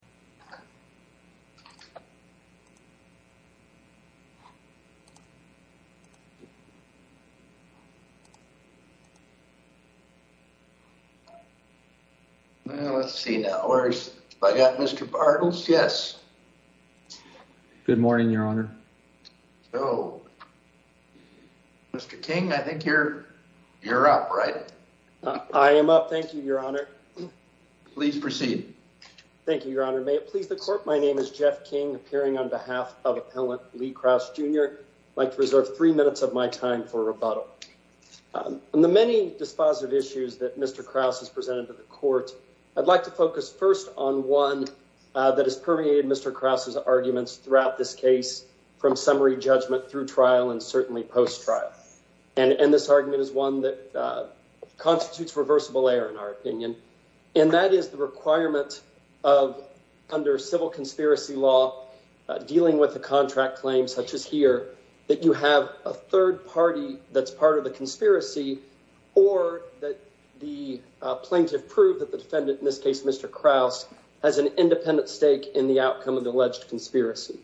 Olsen v. Lee Kraus Well, let's see now. Have I got Mr. Bartels? Yes. Good morning, Your Honor. So, Mr. King, I think you're up, right? I am up. Thank you, Your Honor. Please proceed. Thank you, Your Honor. May it please the Court, my name is Jeff King, appearing on behalf of Appellant Lee Kraus, Jr. I'd like to reserve three minutes of my time for rebuttal. On the many dispositive issues that Mr. Kraus has presented to the Court, I'd like to focus first on one that has permeated Mr. Kraus's arguments throughout this case from summary judgment through trial and certainly post-trial. And this argument is one that of, under civil conspiracy law, dealing with a contract claim such as here, that you have a third party that's part of the conspiracy or that the plaintiff proved that the defendant, in this case Mr. Kraus, has an independent stake in the outcome of the alleged conspiracy.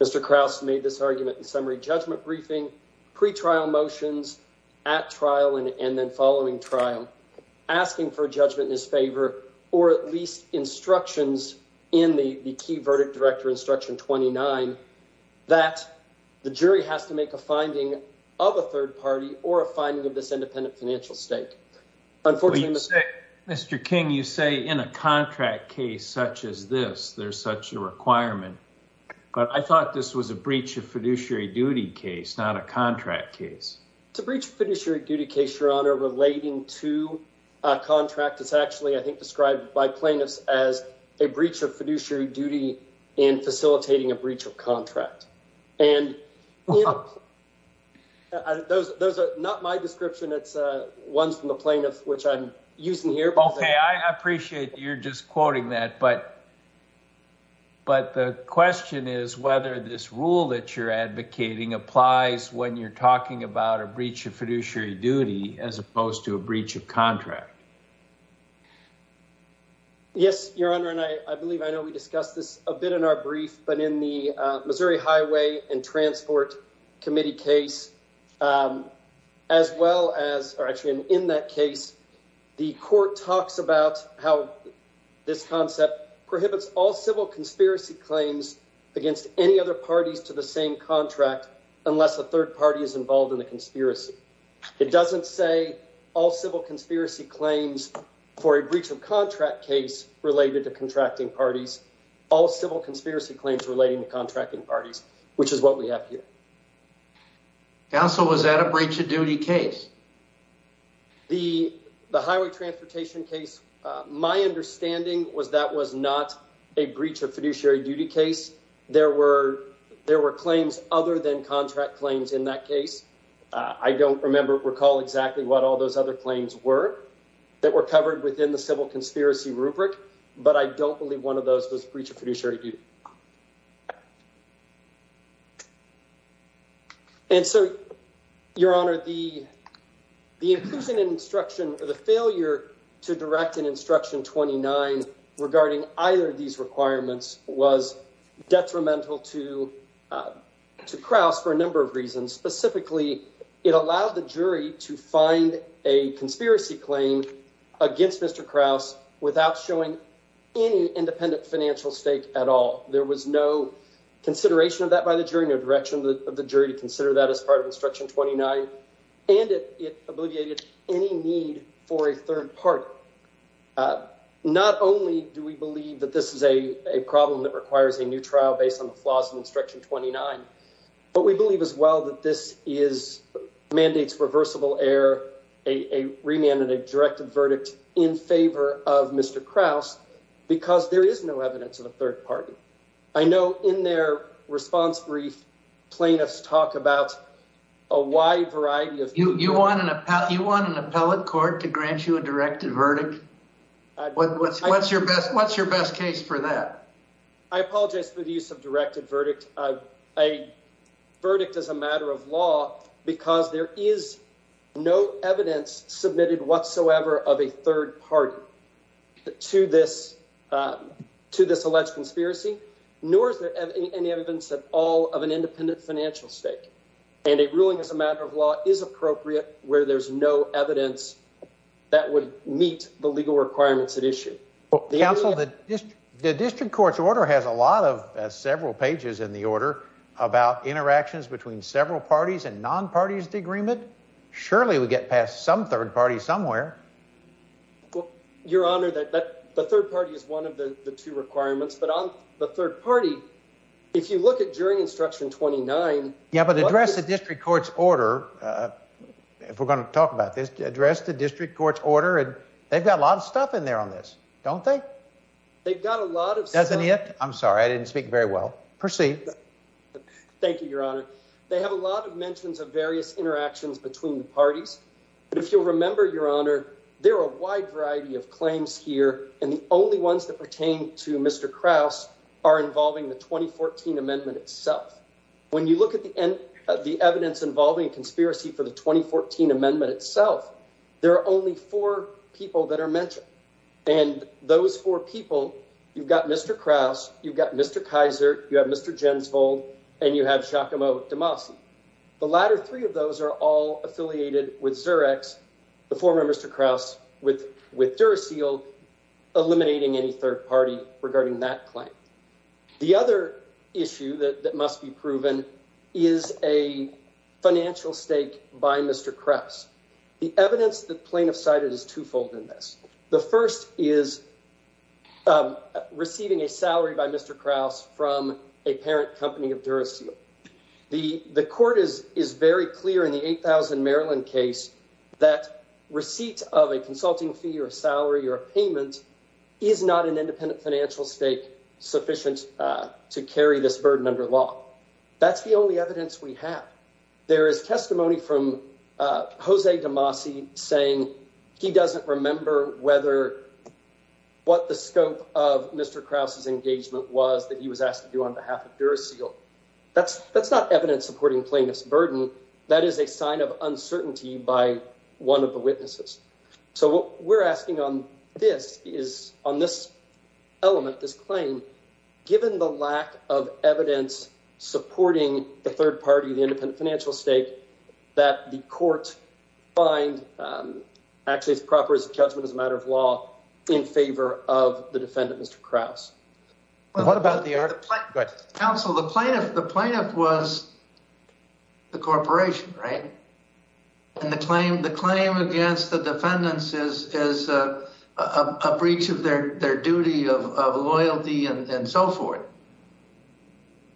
Mr. Kraus made this argument in summary judgment briefing, pre-trial motions, at trial and then following trial, asking for judgment in his favor or at least instructions in the key verdict director instruction 29 that the jury has to make a finding of a third party or a finding of this independent financial stake. Mr. King, you say in a contract case such as this, there's such a requirement, but I thought this was a breach of fiduciary duty case, not a contract case. It's a breach of fiduciary duty case, Your Honor, relating to a contract that's actually, I think, described by plaintiffs as a breach of fiduciary duty in facilitating a breach of contract. And those are not my description, it's ones from the plaintiff which I'm using here. Okay, I appreciate you're just quoting that, but the question is whether this rule that you're referring to is a breach of fiduciary duty as opposed to a breach of contract. Yes, Your Honor, and I believe I know we discussed this a bit in our brief, but in the Missouri Highway and Transport Committee case, as well as, or actually in that case, the court talks about how this concept prohibits all civil conspiracy claims against any other parties to the same contract unless a third party is involved in the conspiracy. It doesn't say all civil conspiracy claims for a breach of contract case related to contracting parties, all civil conspiracy claims relating to contracting parties, which is what we have here. Counsel, was that a breach of duty case? The highway transportation case, my understanding was that was not a breach of fiduciary duty case. There were claims other than contract claims in that case. I don't remember, recall exactly what all those other claims were that were covered within the civil conspiracy rubric, but I don't believe one of those was breach of fiduciary duty. And so, Your Honor, the inclusion in instruction, or the failure to direct an instruction 29 regarding either of these requirements was detrimental to Krauss for a number of reasons. Specifically, it allowed the jury to find a conspiracy claim against Mr. Krauss without showing any independent financial stake at all. There was no consideration of that by the jury, no direction of the jury to consider that as part of instruction 29, and it obliviated any need for a third party. Not only do we believe that this is a problem that requires a new trial based on the flaws of instruction 29, but we believe as well that this mandates reversible error, a remand and a directive verdict in favor of Mr. Krauss, because there is no evidence of a third party. I know in their response brief, plaintiffs talk about a wide variety of... You want an appellate court to grant you a directive verdict? What's your best case for that? I apologize for the use of directive verdict. A verdict is a matter of law because there is no evidence submitted whatsoever of a third party to this alleged conspiracy, nor is there any evidence at all of an independent financial stake, and a ruling as a matter of law is appropriate where there's no evidence that would meet the legal requirements at issue. Counsel, the district court's order has a lot of several pages in the order about interactions between several parties and non-parties of the agreement. Surely we get past some third party somewhere. Your Honor, the third party is one of the two requirements, but on the third party, if you look at jury instruction 29... Yeah, but address the district court's order, if we're going to talk about this, address the district court's order, and they've got a lot of stuff in there on this, don't they? They've got a lot of... Doesn't it? I'm sorry, I didn't speak very well. Proceed. Thank you, Your Honor. They have a lot of mentions of various interactions between the parties, but if you'll remember, Your Honor, there are a wide variety of claims here, and the only ones that pertain to Mr. Krause are involving the 2014 amendment itself. When you look at the evidence involving a conspiracy for the 2014 amendment itself, there are only four people that are mentioned, and those four people, you've got Mr. Krause, you've got Mr. Kaiser, you have Mr. Jensvold, and you have Giacomo DeMasi. The latter three of those are all affiliated with Xerox, the former Mr. Krause with Duracell, eliminating any third party regarding that claim. The other issue that must be proven is a financial stake by Mr. Krause. The evidence the plaintiff cited is twofold in this. The first is receiving a salary by Mr. Krause from a parent company of Duracell. The court is very clear in the 8,000 Maryland case that receipt of a consulting fee or a salary or a payment is not an independent financial stake sufficient to carry this burden under law. That's the only evidence we have. There is testimony from Jose DeMasi saying he doesn't remember what the scope of Mr. Krause's was that he was asked to do on behalf of Duracell. That's not evidence supporting plaintiff's burden. That is a sign of uncertainty by one of the witnesses. So what we're asking on this is, on this element, this claim, given the lack of evidence supporting the third party, the independent financial stake, that the court find actually proper as a judgment as a matter of law in favor of the defendant, Mr. Krause. What about the... Counsel, the plaintiff was the corporation, right? And the claim against the defendants is a breach of their duty of loyalty and so forth.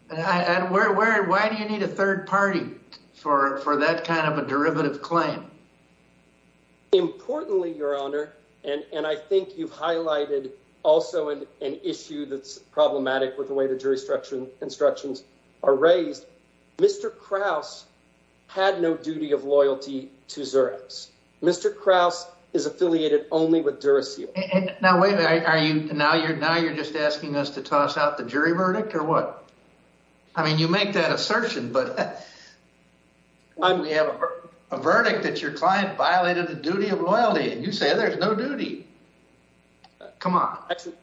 Why do you need a third party for that kind of a derivative claim? Importantly, Your Honor, and I think you've highlighted also an issue that's problematic with the way the jury instructions are raised. Mr. Krause had no duty of loyalty to Xerox. Mr. Krause is affiliated only with Duracell. Now, wait a minute. Now you're just asking us to toss out the jury verdict or what? I mean, you make that assertion, but... Your client violated the duty of loyalty and you say there's no duty. Come on. Actually,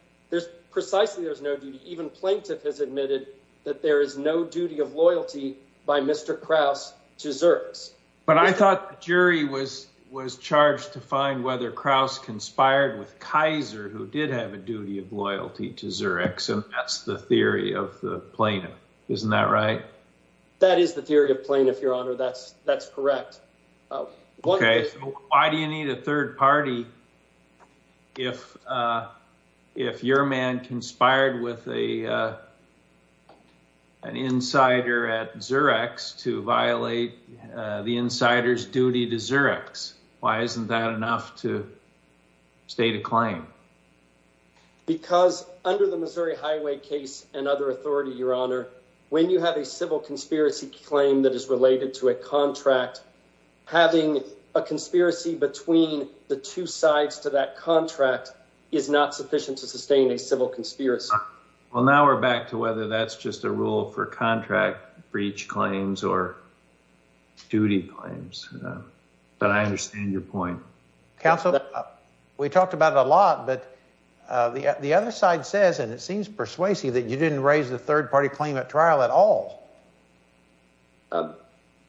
precisely there's no duty. Even plaintiff has admitted that there is no duty of loyalty by Mr. Krause to Xerox. But I thought the jury was charged to find whether Krause conspired with Kaiser, who did have a duty of loyalty to Xerox, and that's the theory of the plaintiff. Isn't that right? That is the theory of plaintiff, Your Honor. That's correct. Why do you need a third party if your man conspired with an insider at Xerox to violate the insider's duty to Xerox? Why isn't that enough to state a claim? Because under the Missouri Highway case and other authority, Your Honor, when you have a civil conspiracy claim that is related to a contract, having a conspiracy between the two sides to that contract is not sufficient to sustain a civil conspiracy. Well, now we're back to whether that's just a rule for contract breach claims or duty claims. But I understand your point. Counsel, we talked about it a lot, but the other side says, and it seems persuasive that you didn't raise the third party claim at trial at all. Um,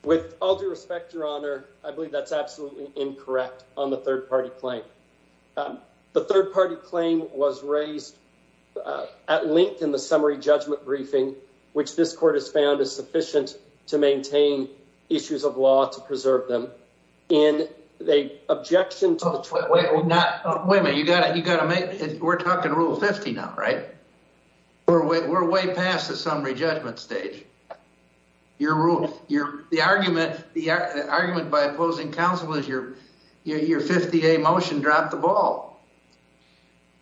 with all due respect, Your Honor, I believe that's absolutely incorrect on the third party claim. The third party claim was raised at length in the summary judgment briefing, which this court has found is sufficient to maintain issues of law to preserve them. In the objection to the... Wait, wait, wait, not... Wait a minute, you gotta make... We're talking Rule 50 now, right? We're way past the summary judgment stage. Your rule, the argument by opposing counsel is your 50A motion dropped the ball.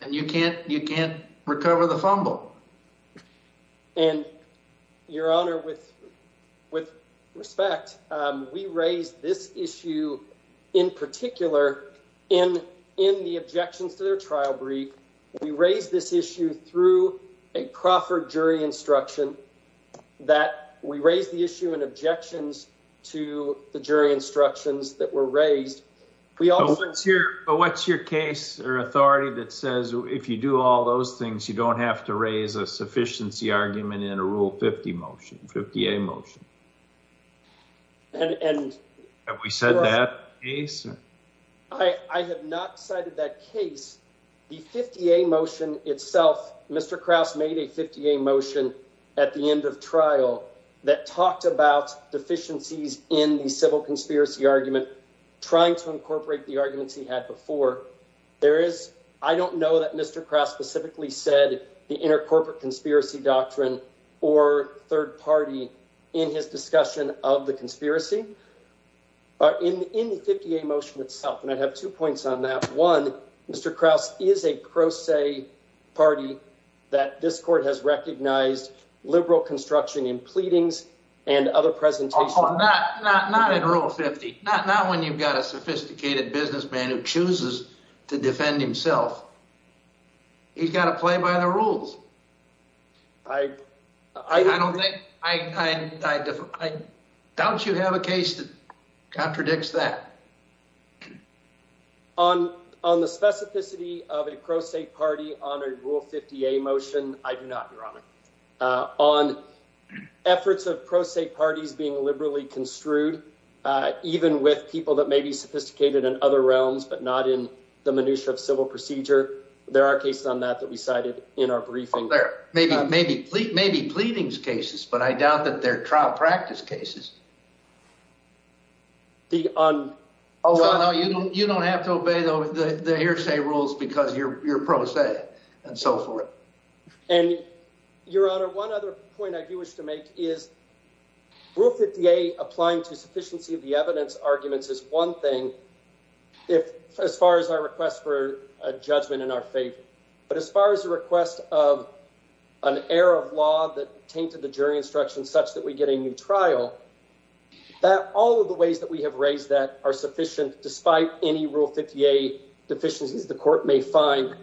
And you can't recover the fumble. And Your Honor, with respect, we raised this issue in particular in the objections to their instruction that we raised the issue in objections to the jury instructions that were raised. But what's your case or authority that says if you do all those things, you don't have to raise a sufficiency argument in a Rule 50 motion, 50A motion? And... Have we said that case? I have not cited that case. The 50A motion itself, Mr. Krause made a 50A motion at the end of trial that talked about deficiencies in the civil conspiracy argument, trying to incorporate the arguments he had before. There is... I don't know that Mr. Krause specifically said the intercorporate conspiracy doctrine or third party in his discussion of the conspiracy. In the 50A motion itself, and I have two points on that. One, Mr. Krause is a pro se party that this court has recognized liberal construction in pleadings and other presentations... Oh, not in Rule 50. Not when you've got a sophisticated businessman who chooses to defend himself. He's got to play by the rules. I... I don't think... I doubt you have a case that contradicts that. On the specificity of a pro se party on a Rule 50A motion, I do not, Your Honor. On efforts of pro se parties being liberally construed, even with people that may be sophisticated in other realms, but not in the minutia of civil procedure. There are cases on that that we cited in our briefing. There may be pleadings cases, but I doubt that they're trial practice cases. The... Oh, no, you don't have to obey the hearsay rules because you're pro se and so forth. And, Your Honor, one other point I do wish to make is Rule 50A applying to sufficiency of the evidence arguments is one thing if, as far as our request for a judgment in our favor. But as far as the request of an error of law that tainted the jury instruction such that we get a new trial, that all of the ways that we have raised that are sufficient, despite any Rule 50A deficiencies the court may find,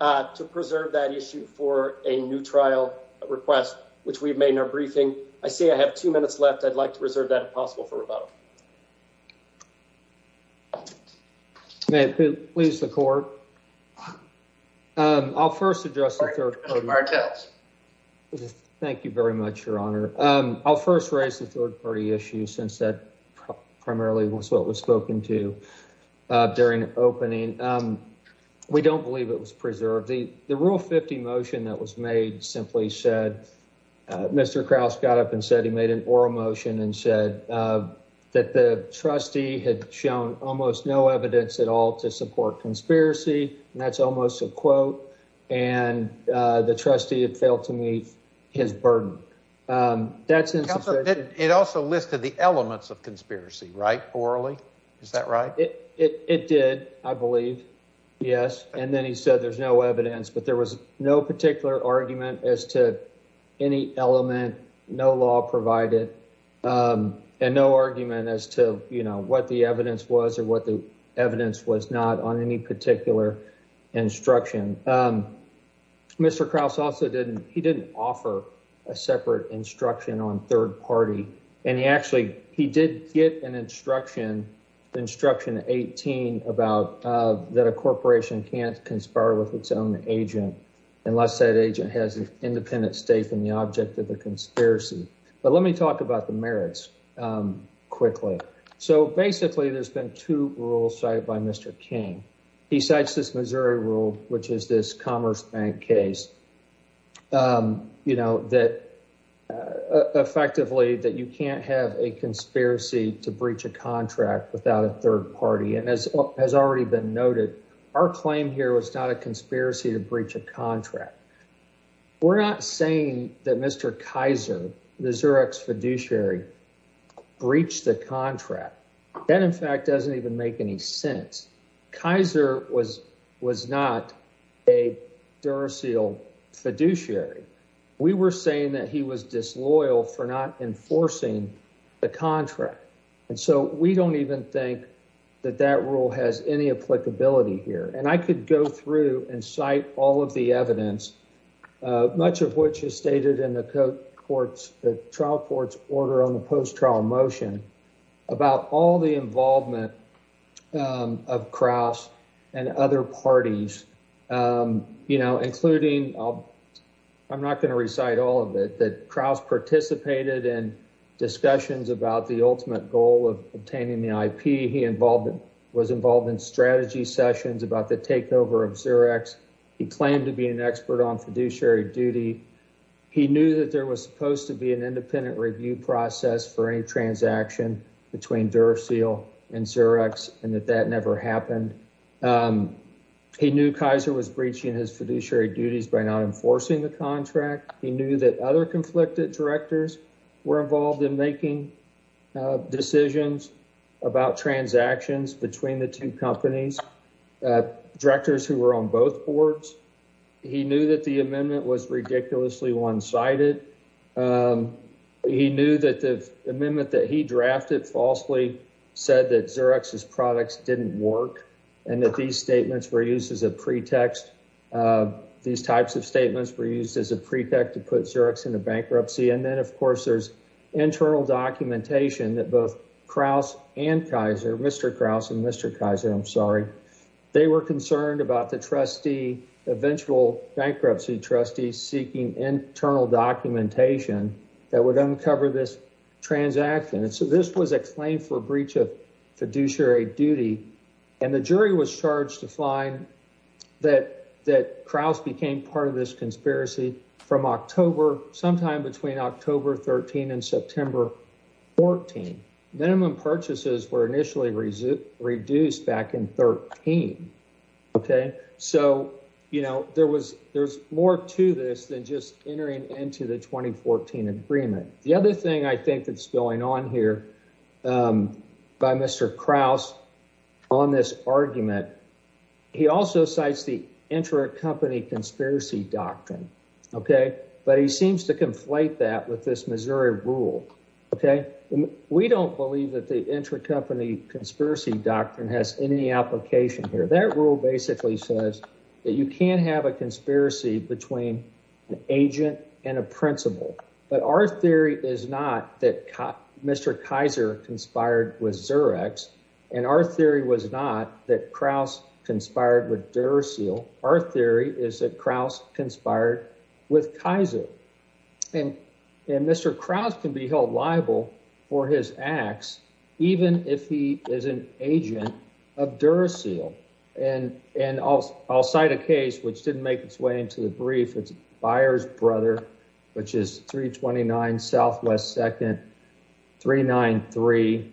to preserve that issue for a new trial request, which we've made in our briefing. I see I have two minutes left. I'd like to reserve that if possible for rebuttal. May it please the court. I'll first address the third party. Thank you very much, Your Honor. I'll first raise the third party issue, since that primarily was what was spoken to during opening. We don't believe it was preserved. The Rule 50 motion that was made simply said, Mr. Krause got up and said he made an oral motion and said that the trustee had shown almost no evidence at all to support conspiracy. And that's almost a quote. And the trustee had failed to meet his burden. That's interesting. It also listed the elements of conspiracy, right? Orally. Is that right? It did, I believe. Yes. And then he said there's no evidence, but there was no particular argument as to any element, no law provided, and no argument as to, you know, what the evidence was or what the evidence was not on any particular instruction. And Mr. Krause also didn't, he didn't offer a separate instruction on third party. And he actually, he did get an instruction, instruction 18 about that a corporation can't conspire with its own agent, unless that agent has an independent stake in the object of the conspiracy. But let me talk about the merits quickly. So basically, there's been two rules cited by Mr. King. He cites this Missouri rule, which is this Commerce Bank case, you know, that effectively that you can't have a conspiracy to breach a contract without a third party. And as has already been noted, our claim here was not a conspiracy to breach a contract. We're not saying that Mr. Kaiser, the Xerox fiduciary, breached the contract. That, in fact, doesn't even make any sense. Kaiser was not a Duracell fiduciary. We were saying that he was disloyal for not enforcing the contract. And so we don't even think that that rule has any applicability here. And I could go through and cite all of the evidence, much of which is stated in the trial court's order on the post-trial motion, about all the involvement of Krauss and other parties, you know, including I'm not going to recite all of it, that Krauss participated in discussions about the ultimate goal of obtaining the IP. He was involved in strategy sessions about the takeover of Xerox. He claimed to be an expert on fiduciary duty. He knew that there was supposed to be an independent review process for any transaction between Duracell and Xerox, and that that never happened. He knew Kaiser was breaching his fiduciary duties by not enforcing the contract. He knew that other conflicted directors were involved in making decisions about transactions between the two companies, directors who were on both boards. He knew that the amendment was ridiculously one-sided. He knew that the amendment that he drafted falsely said that Xerox's products didn't work, and that these statements were used as a pretext. These types of statements were used as a pretext to put Xerox into bankruptcy. And then, of course, there's internal documentation that both Krauss and Kaiser, Mr. Krauss and Mr. Kaiser, I'm sorry, they were concerned about the trustee, eventual bankruptcy trustee seeking internal documentation that would uncover this transaction. So this was a claim for breach of fiduciary duty, and the jury was charged to find that Krauss became part of this conspiracy from October, sometime between October 13 and September 14. Minimum purchases were initially reduced back in 13, okay? So, you know, there's more to this than just entering into the 2014 agreement. The other thing I think that's going on here by Mr. Krauss on this argument, he also cites the inter-company conspiracy doctrine, okay? But he seems to conflate that with this Missouri rule, okay? We don't believe that the inter-company conspiracy doctrine has any application here. That rule basically says that you can't have a conspiracy between an agent and a principal. But our theory is not that Mr. Kaiser conspired with Xerox, and our theory was not that Krauss conspired with Duracell. Our theory is that Krauss conspired with Kaiser. And Mr. Krauss can be held liable for his acts even if he is an agent of Duracell. And I'll cite a case which didn't make its way into the brief. It's Byers Brother, which is 329 Southwest 2nd, 393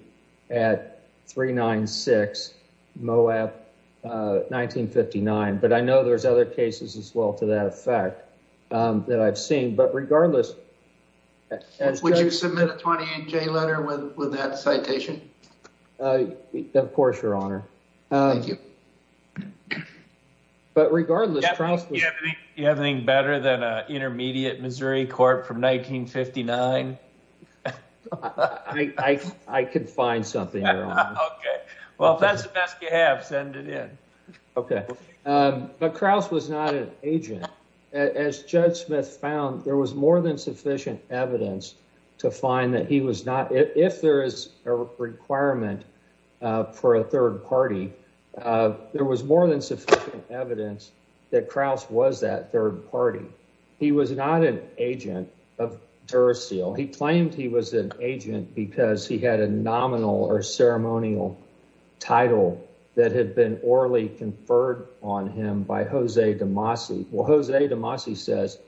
at 396 Moab, 1959. But I know there's other cases as well to that effect that I've seen. But regardless... Would you submit a 28-J letter with that citation? Of course, Your Honor. Thank you. But regardless... You have anything better than an intermediate Missouri court from 1959? I could find something, Your Honor. Okay. Well, if that's the best you have, send it in. Okay. But Krauss was not an agent. As Judge Smith found, there was more than sufficient evidence to find that he was not... If there is a requirement for a third party, there was more than sufficient evidence that Krauss was that third party. He was not an agent of Duracell. He claimed he was an agent because he had a nominal or ceremonial title that had been orally conferred on him by Jose DeMasi. Well, Jose DeMasi says,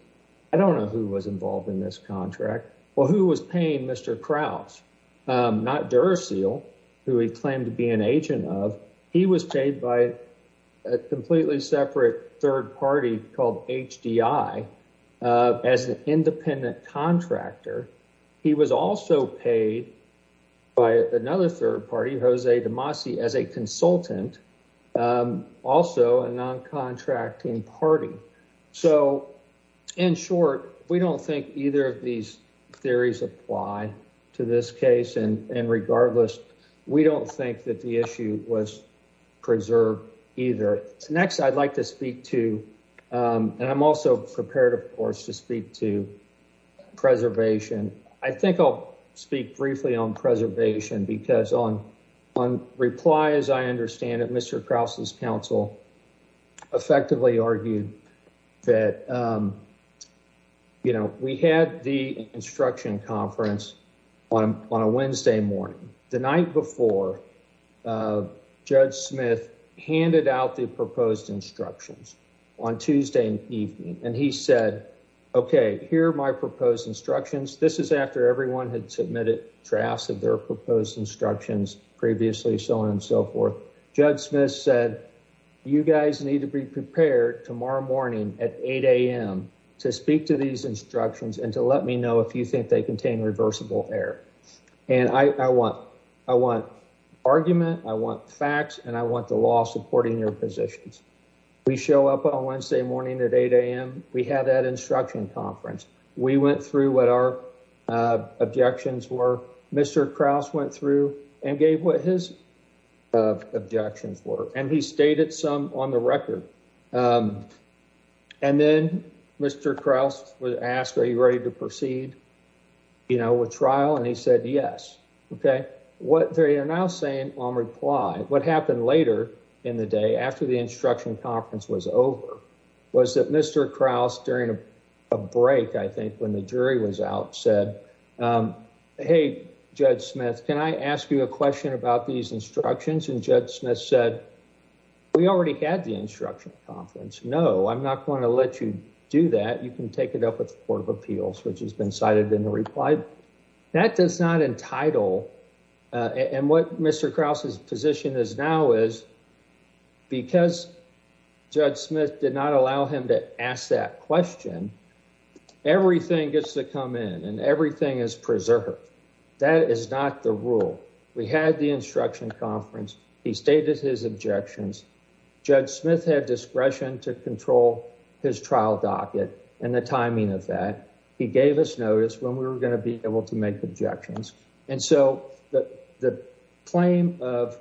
I don't know who was involved in this contract. Well, who was paying Mr. Krauss? Not Duracell, who he claimed to be an agent of. He was paid by a completely separate third party called HDI as an independent contractor. He was also paid by another third party, Jose DeMasi, as a consultant, also a non-contracting party. So in short, we don't think either of these theories apply to this case. And regardless, we don't think that the issue was preserved either. Next, I'd like to speak to, and I'm also prepared, of course, to speak to preservation. I think I'll speak briefly on preservation because on reply, as I understand it, Mr. Krauss' counsel effectively argued that, you know, we had the instruction conference on a Wednesday morning. The night before, Judge Smith handed out the proposed instructions on Tuesday evening, and he said, okay, here are my proposed instructions. This is after everyone had submitted drafts of their proposed instructions previously, so on and so forth. Judge Smith said, you guys need to be prepared tomorrow morning at 8 a.m. to speak to these instructions and to let me know if you think they contain reversible error. And I want argument, I want facts, and I want the law supporting your positions. We show up on Wednesday morning at 8 a.m. We had that instruction conference. We went through what our objections were. Mr. Krauss went through and gave what his objections were, and he stated some on the record. And then Mr. Krauss was asked, are you ready to proceed, you know, with trial? And he said, yes. Okay, what they are now saying on reply, what happened later in the day, after the instruction conference was over, was that Mr. Krauss, during a break, I think, when the jury was out, said, hey, Judge Smith, can I ask you a question about these instructions? And Judge Smith said, we already had the instruction conference. No, I'm not going to let you do that. You can take it up with the Court of Appeals, which has been cited in the reply. That does not entitle, and what Mr. Krauss's position is now is, because Judge Smith did not allow him to ask that question, everything gets to come in, and everything is preserved. That is not the rule. We had the instruction conference. He stated his objections. Judge Smith had discretion to control his trial docket and the timing of that. He gave us notice when we were going to be able to make objections, and so the claim of,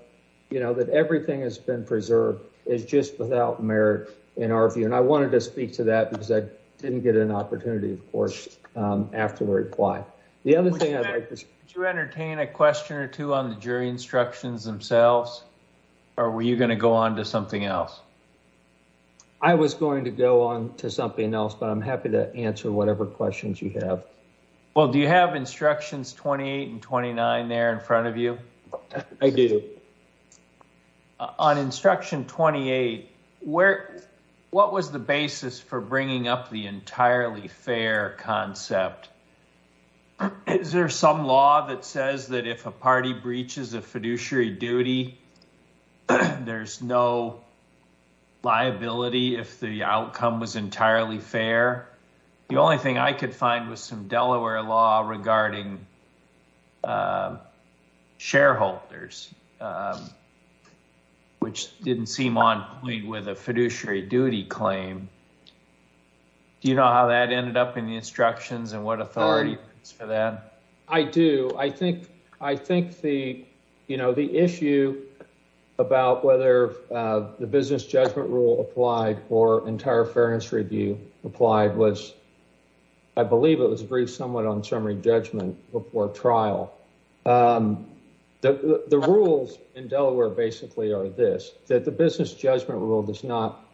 you know, that everything has been preserved is just without merit in our view, and I wanted to speak to that because I didn't get an opportunity, of course, after the reply. The other thing I'd like to- Could you entertain a question or two on the jury instructions themselves, or were you going to go on to something else? I was going to go on to something else, but I'm happy to answer whatever questions you have. Well, do you have instructions 28 and 29 there in front of you? I do. On instruction 28, what was the basis for bringing up the entirely fair concept? Is there some law that says that if a party breaches a fiduciary duty, there's no liability if the outcome was entirely fair? The only thing I could find was some Delaware law regarding shareholders, which didn't seem on point with a fiduciary duty claim. Do you know how that ended up in the instructions and what authority for that? I do. I think the issue about whether the business judgment rule applied or entire fairness review applied was- I believe it was briefed somewhat on summary judgment before trial. The rules in Delaware basically are this, that the business judgment rule does not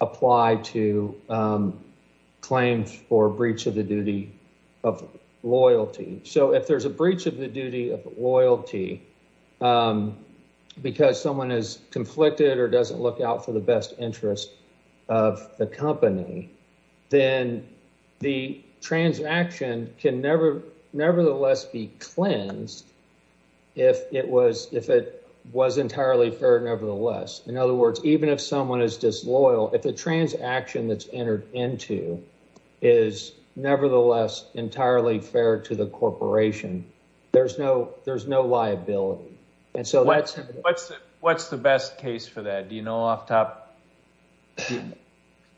apply to claims for breach of the duty of loyalty. If there's a breach of the duty of loyalty because someone is conflicted or doesn't look out for the best interest of the company, then the transaction can nevertheless be cleansed if it was entirely fair nevertheless. In other words, even if someone is disloyal, if the transaction that's entered into is nevertheless entirely fair to the corporation, there's no liability. What's the best case for that? Do you know off the top?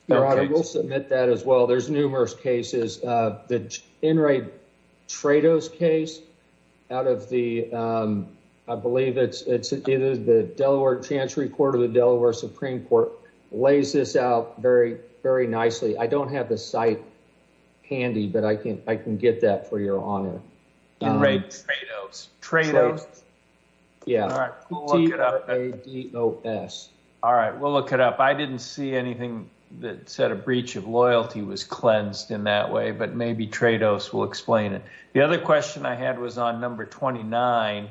We'll submit that as well. There's numerous cases. The Enright Trados case out of the- I believe it's the Delaware Chancery Court or the Delaware Supreme Court lays this out very, very nicely. I don't have the site handy, but I can get that for your honor. Enright Trados. Trados? Yeah. All right, we'll look it up. I didn't see anything that said a breach of loyalty was cleansed in that way, but maybe Trados will explain it. The other question I had was on number 29.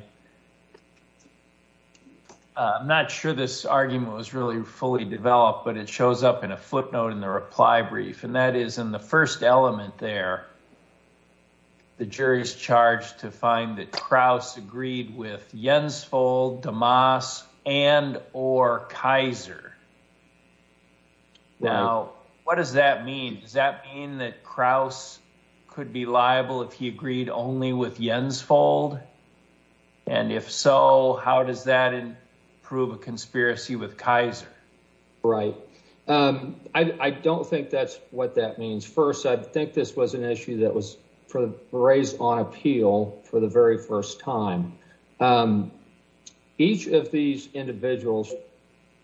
I'm not sure this argument was really fully developed, but it shows up in a footnote in the reply brief, and that is in the first element there, the jury's charged to find that Kraus agreed with Jensvold, DeMoss, and or Kaiser. Now, what does that mean? Does that mean that Kraus could be liable if he agreed only with Jensvold? And if so, how does that prove a conspiracy with Kaiser? Right. I don't think that's what that means. First, I think this was an issue that was raised on appeal for the very first time. Each of these individuals,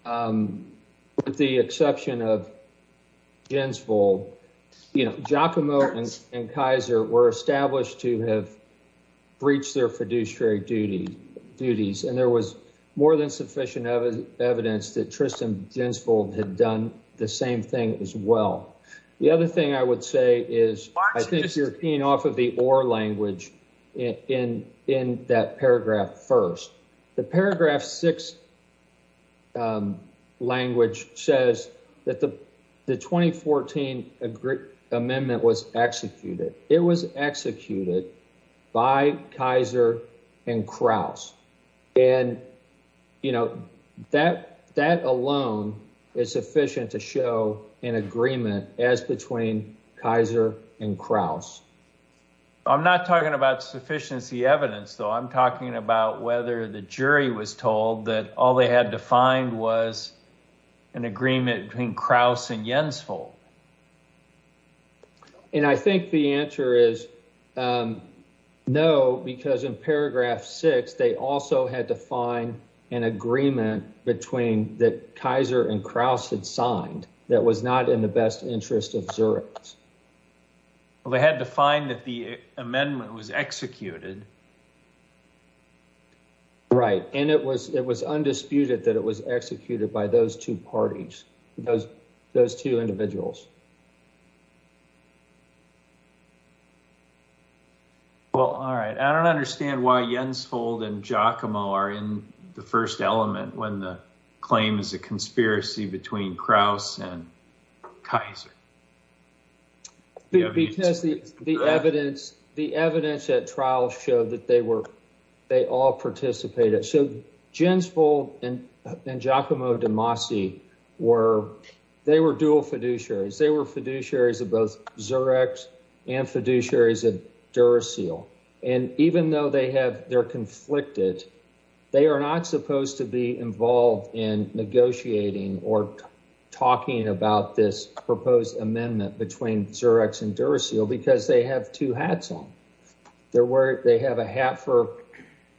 with the exception of Jensvold, Giacomo and Kaiser were established to have breached their fiduciary duties, and there was more than sufficient evidence that Tristan Jensvold had done the same thing as well. The other thing I would say is I think you're paying off of the or language in that paragraph first. The paragraph six language says that the 2014 amendment was executed. It was executed by Kaiser and Kraus, and that alone is sufficient to show an agreement as between Kaiser and Kraus. I'm not talking about sufficiency evidence, though. I'm talking about whether the jury was told that all they had to find was an agreement between Kraus and Jensvold. I think the answer is no, because in paragraph six, they also had to find an agreement between that Kaiser and Kraus had signed that was not in the best interest of Zurich. Well, they had to find that the amendment was executed. Right, and it was undisputed that it was executed by those two parties, those two individuals. Well, all right. I don't understand why Jensvold and Giacomo are in the first element when the claim is a conspiracy between Kraus and Kaiser. Because the evidence at trial showed that they all participated. So Jensvold and Giacomo De Masi were dual fiduciaries. They were fiduciaries of both Zurich and fiduciaries of Duracell. And even though they're conflicted, they are not supposed to be involved in negotiating or talking about this proposed amendment between Zurich and Duracell because they have two hats on. They have a hat for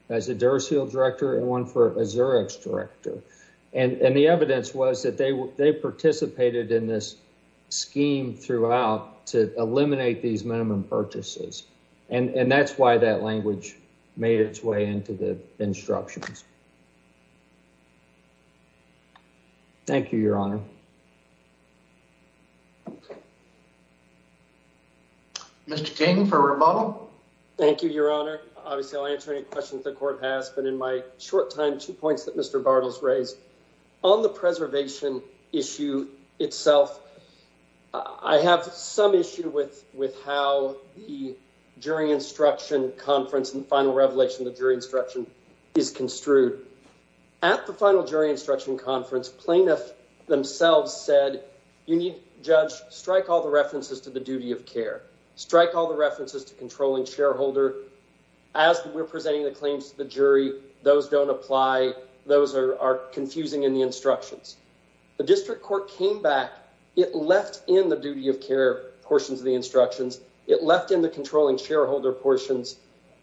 as a Duracell director and one for a Zurich director. And the evidence was that they participated in this scheme throughout to eliminate these minimum purchases. And that's why that language made its way into the instructions. Thank you, Your Honor. Mr. King for rebuttal. Thank you, Your Honor. Obviously, I'll answer any questions the court has. But in my short time, two points that Mr. Bartles raised. On the preservation issue itself, I have some issue with how the jury instruction conference and final revelation of the jury instruction is construed. At the final jury instruction conference, plaintiff themselves said, you need, judge, strike all the references to the duty of care. Strike all the references to controlling shareholder. As we're presenting the claims to the jury, those don't apply. Those are confusing in the instructions. The district court came back. It left in the duty of care portions of the instructions. It left in the controlling shareholder portions.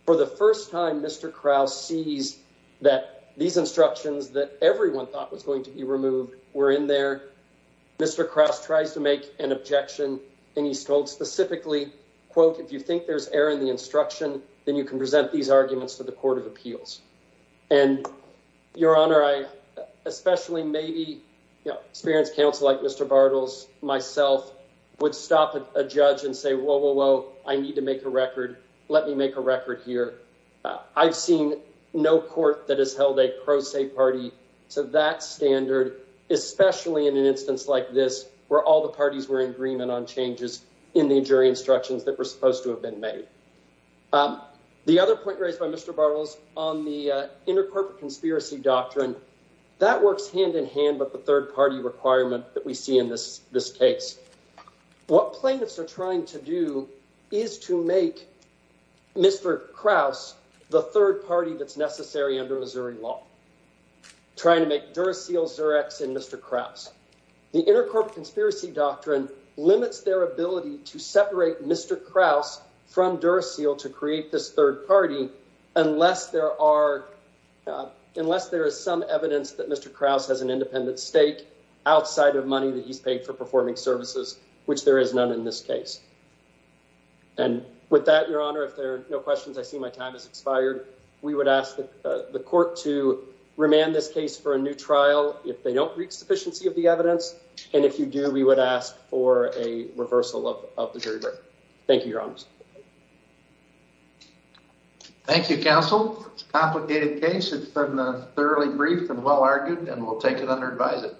For the first time, Mr. Krause sees that these instructions that everyone thought was going to be removed were in there. Mr. Krause tries to make an objection. And he's told specifically, quote, if you think there's error in the instruction, then you can present these arguments to the Court of Appeals. And, Your Honor, I especially maybe experienced counsel like Mr. Bartles, myself, would stop a judge and say, whoa, whoa, whoa, I need to make a record. Let me make a record here. I've seen no court that has held a pro se party to that standard, especially in an instance like this, where all the parties were in agreement on changes in the jury instructions that were supposed to have been made. The other point raised by Mr. Bartles on the intercorporate conspiracy doctrine, that works hand in hand with the third party requirement that we see in this case. What plaintiffs are trying to do is to make Mr. Krause the third party that's necessary under Missouri law. Trying to make Duracell, Xerox, and Mr. Krause. The intercorporate conspiracy doctrine limits their ability to separate Mr. Krause from Duracell to create this third party unless there is some evidence that Mr. Krause has an independent stake outside of money that he's paid for performing services, which there is none in this case. And with that, Your Honor, if there are no questions, I see my time has expired. We would ask the court to remand this case for a new trial if they don't reach sufficiency of the evidence. And if you do, we would ask for a reversal of the jury record. Thank you, Your Honors. Thank you, counsel. It's a complicated case. It's been thoroughly briefed and well-argued, and we'll take it under advisement.